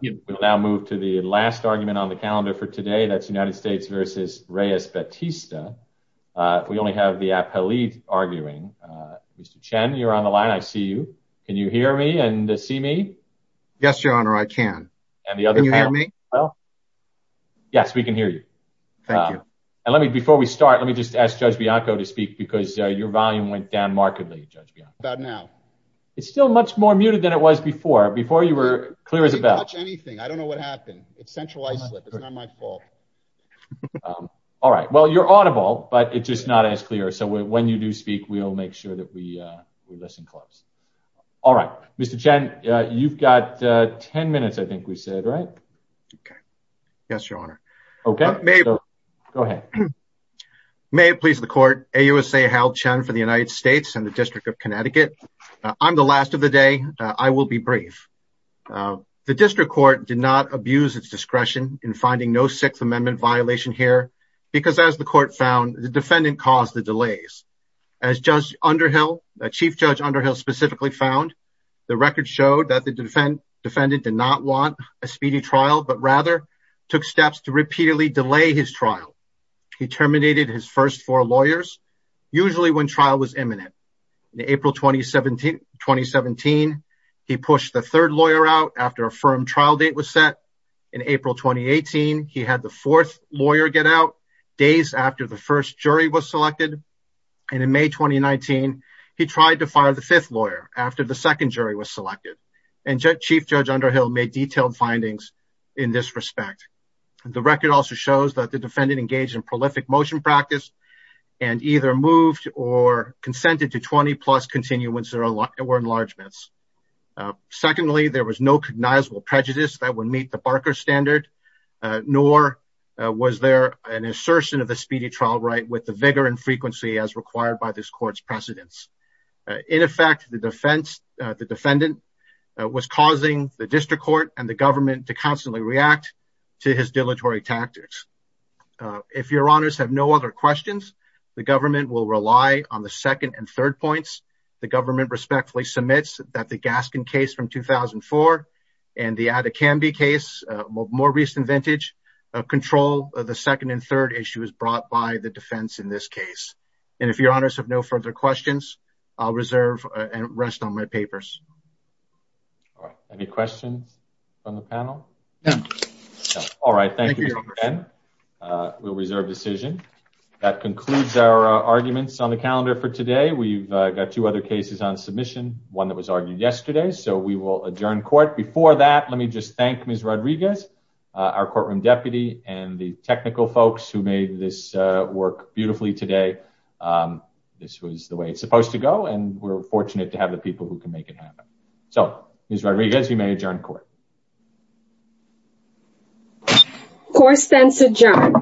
We'll now move to the last argument on the calendar for today. That's United States v. Reyes-Batista. We only have the appellee arguing. Mr. Chen, you're on the line. I see you. Can you hear me and see me? Yes, Your Honor, I can. Can you hear me? Yes, we can hear you. Thank you. Before we start, let me just ask Judge Bianco to speak because your volume went down markedly, Judge Bianco. How about now? It's still much more muted than it was before. Before you were clear as a bell. I didn't touch anything. I don't know what happened. It's centralized. It's not my fault. All right. Well, you're audible, but it's just not as clear. So when you do speak, we'll make sure that we listen close. All right. Mr. Chen, you've got 10 minutes, I think we said, right? Yes, Your Honor. OK, go ahead. May it please the court. AUSA Hal Chen for the United States and the District of Connecticut. I'm the last of the day. I will be brief. The district court did not abuse its discretion in finding no Sixth Amendment violation here because, as the court found, the defendant caused the delays. As Judge Underhill, Chief Judge Underhill specifically found, the record showed that the defendant did not want a speedy trial, but rather took steps to repeatedly delay his trial. He terminated his first four lawyers, usually when trial was imminent. In April 2017, he pushed the third lawyer out after a firm trial date was set. In April 2018, he had the fourth lawyer get out days after the first jury was selected. And in May 2019, he tried to fire the fifth lawyer after the second jury was selected. And Chief Judge Underhill made detailed findings in this respect. The record also shows that the defendant engaged in prolific motion practice and either moved or consented to 20 plus continuance or enlargements. Secondly, there was no cognizable prejudice that would meet the Barker standard, nor was there an assertion of the speedy trial right with the vigor and frequency as required by this court's precedence. In effect, the defendant was causing the district court and the government to constantly react to his dilatory tactics. If your honors have no other questions, the government will rely on the second and third points. The government respectfully submits that the Gaskin case from 2004 and the Adekambi case, more recent vintage, control the second and third issues brought by the defense in this case. And if your honors have no further questions, I'll reserve and rest on my papers. Any questions on the panel? All right. Thank you. We'll reserve decision. That concludes our arguments on the calendar for today. We've got two other cases on submission, one that was argued yesterday. So we will adjourn court before that. Let me just thank Ms. Rodriguez, our courtroom deputy, and the technical folks who made this work beautifully today. This was the way it's supposed to go. And we're fortunate to have the people who can make it happen. So, Ms. Rodriguez, you may adjourn court. Court stands adjourned.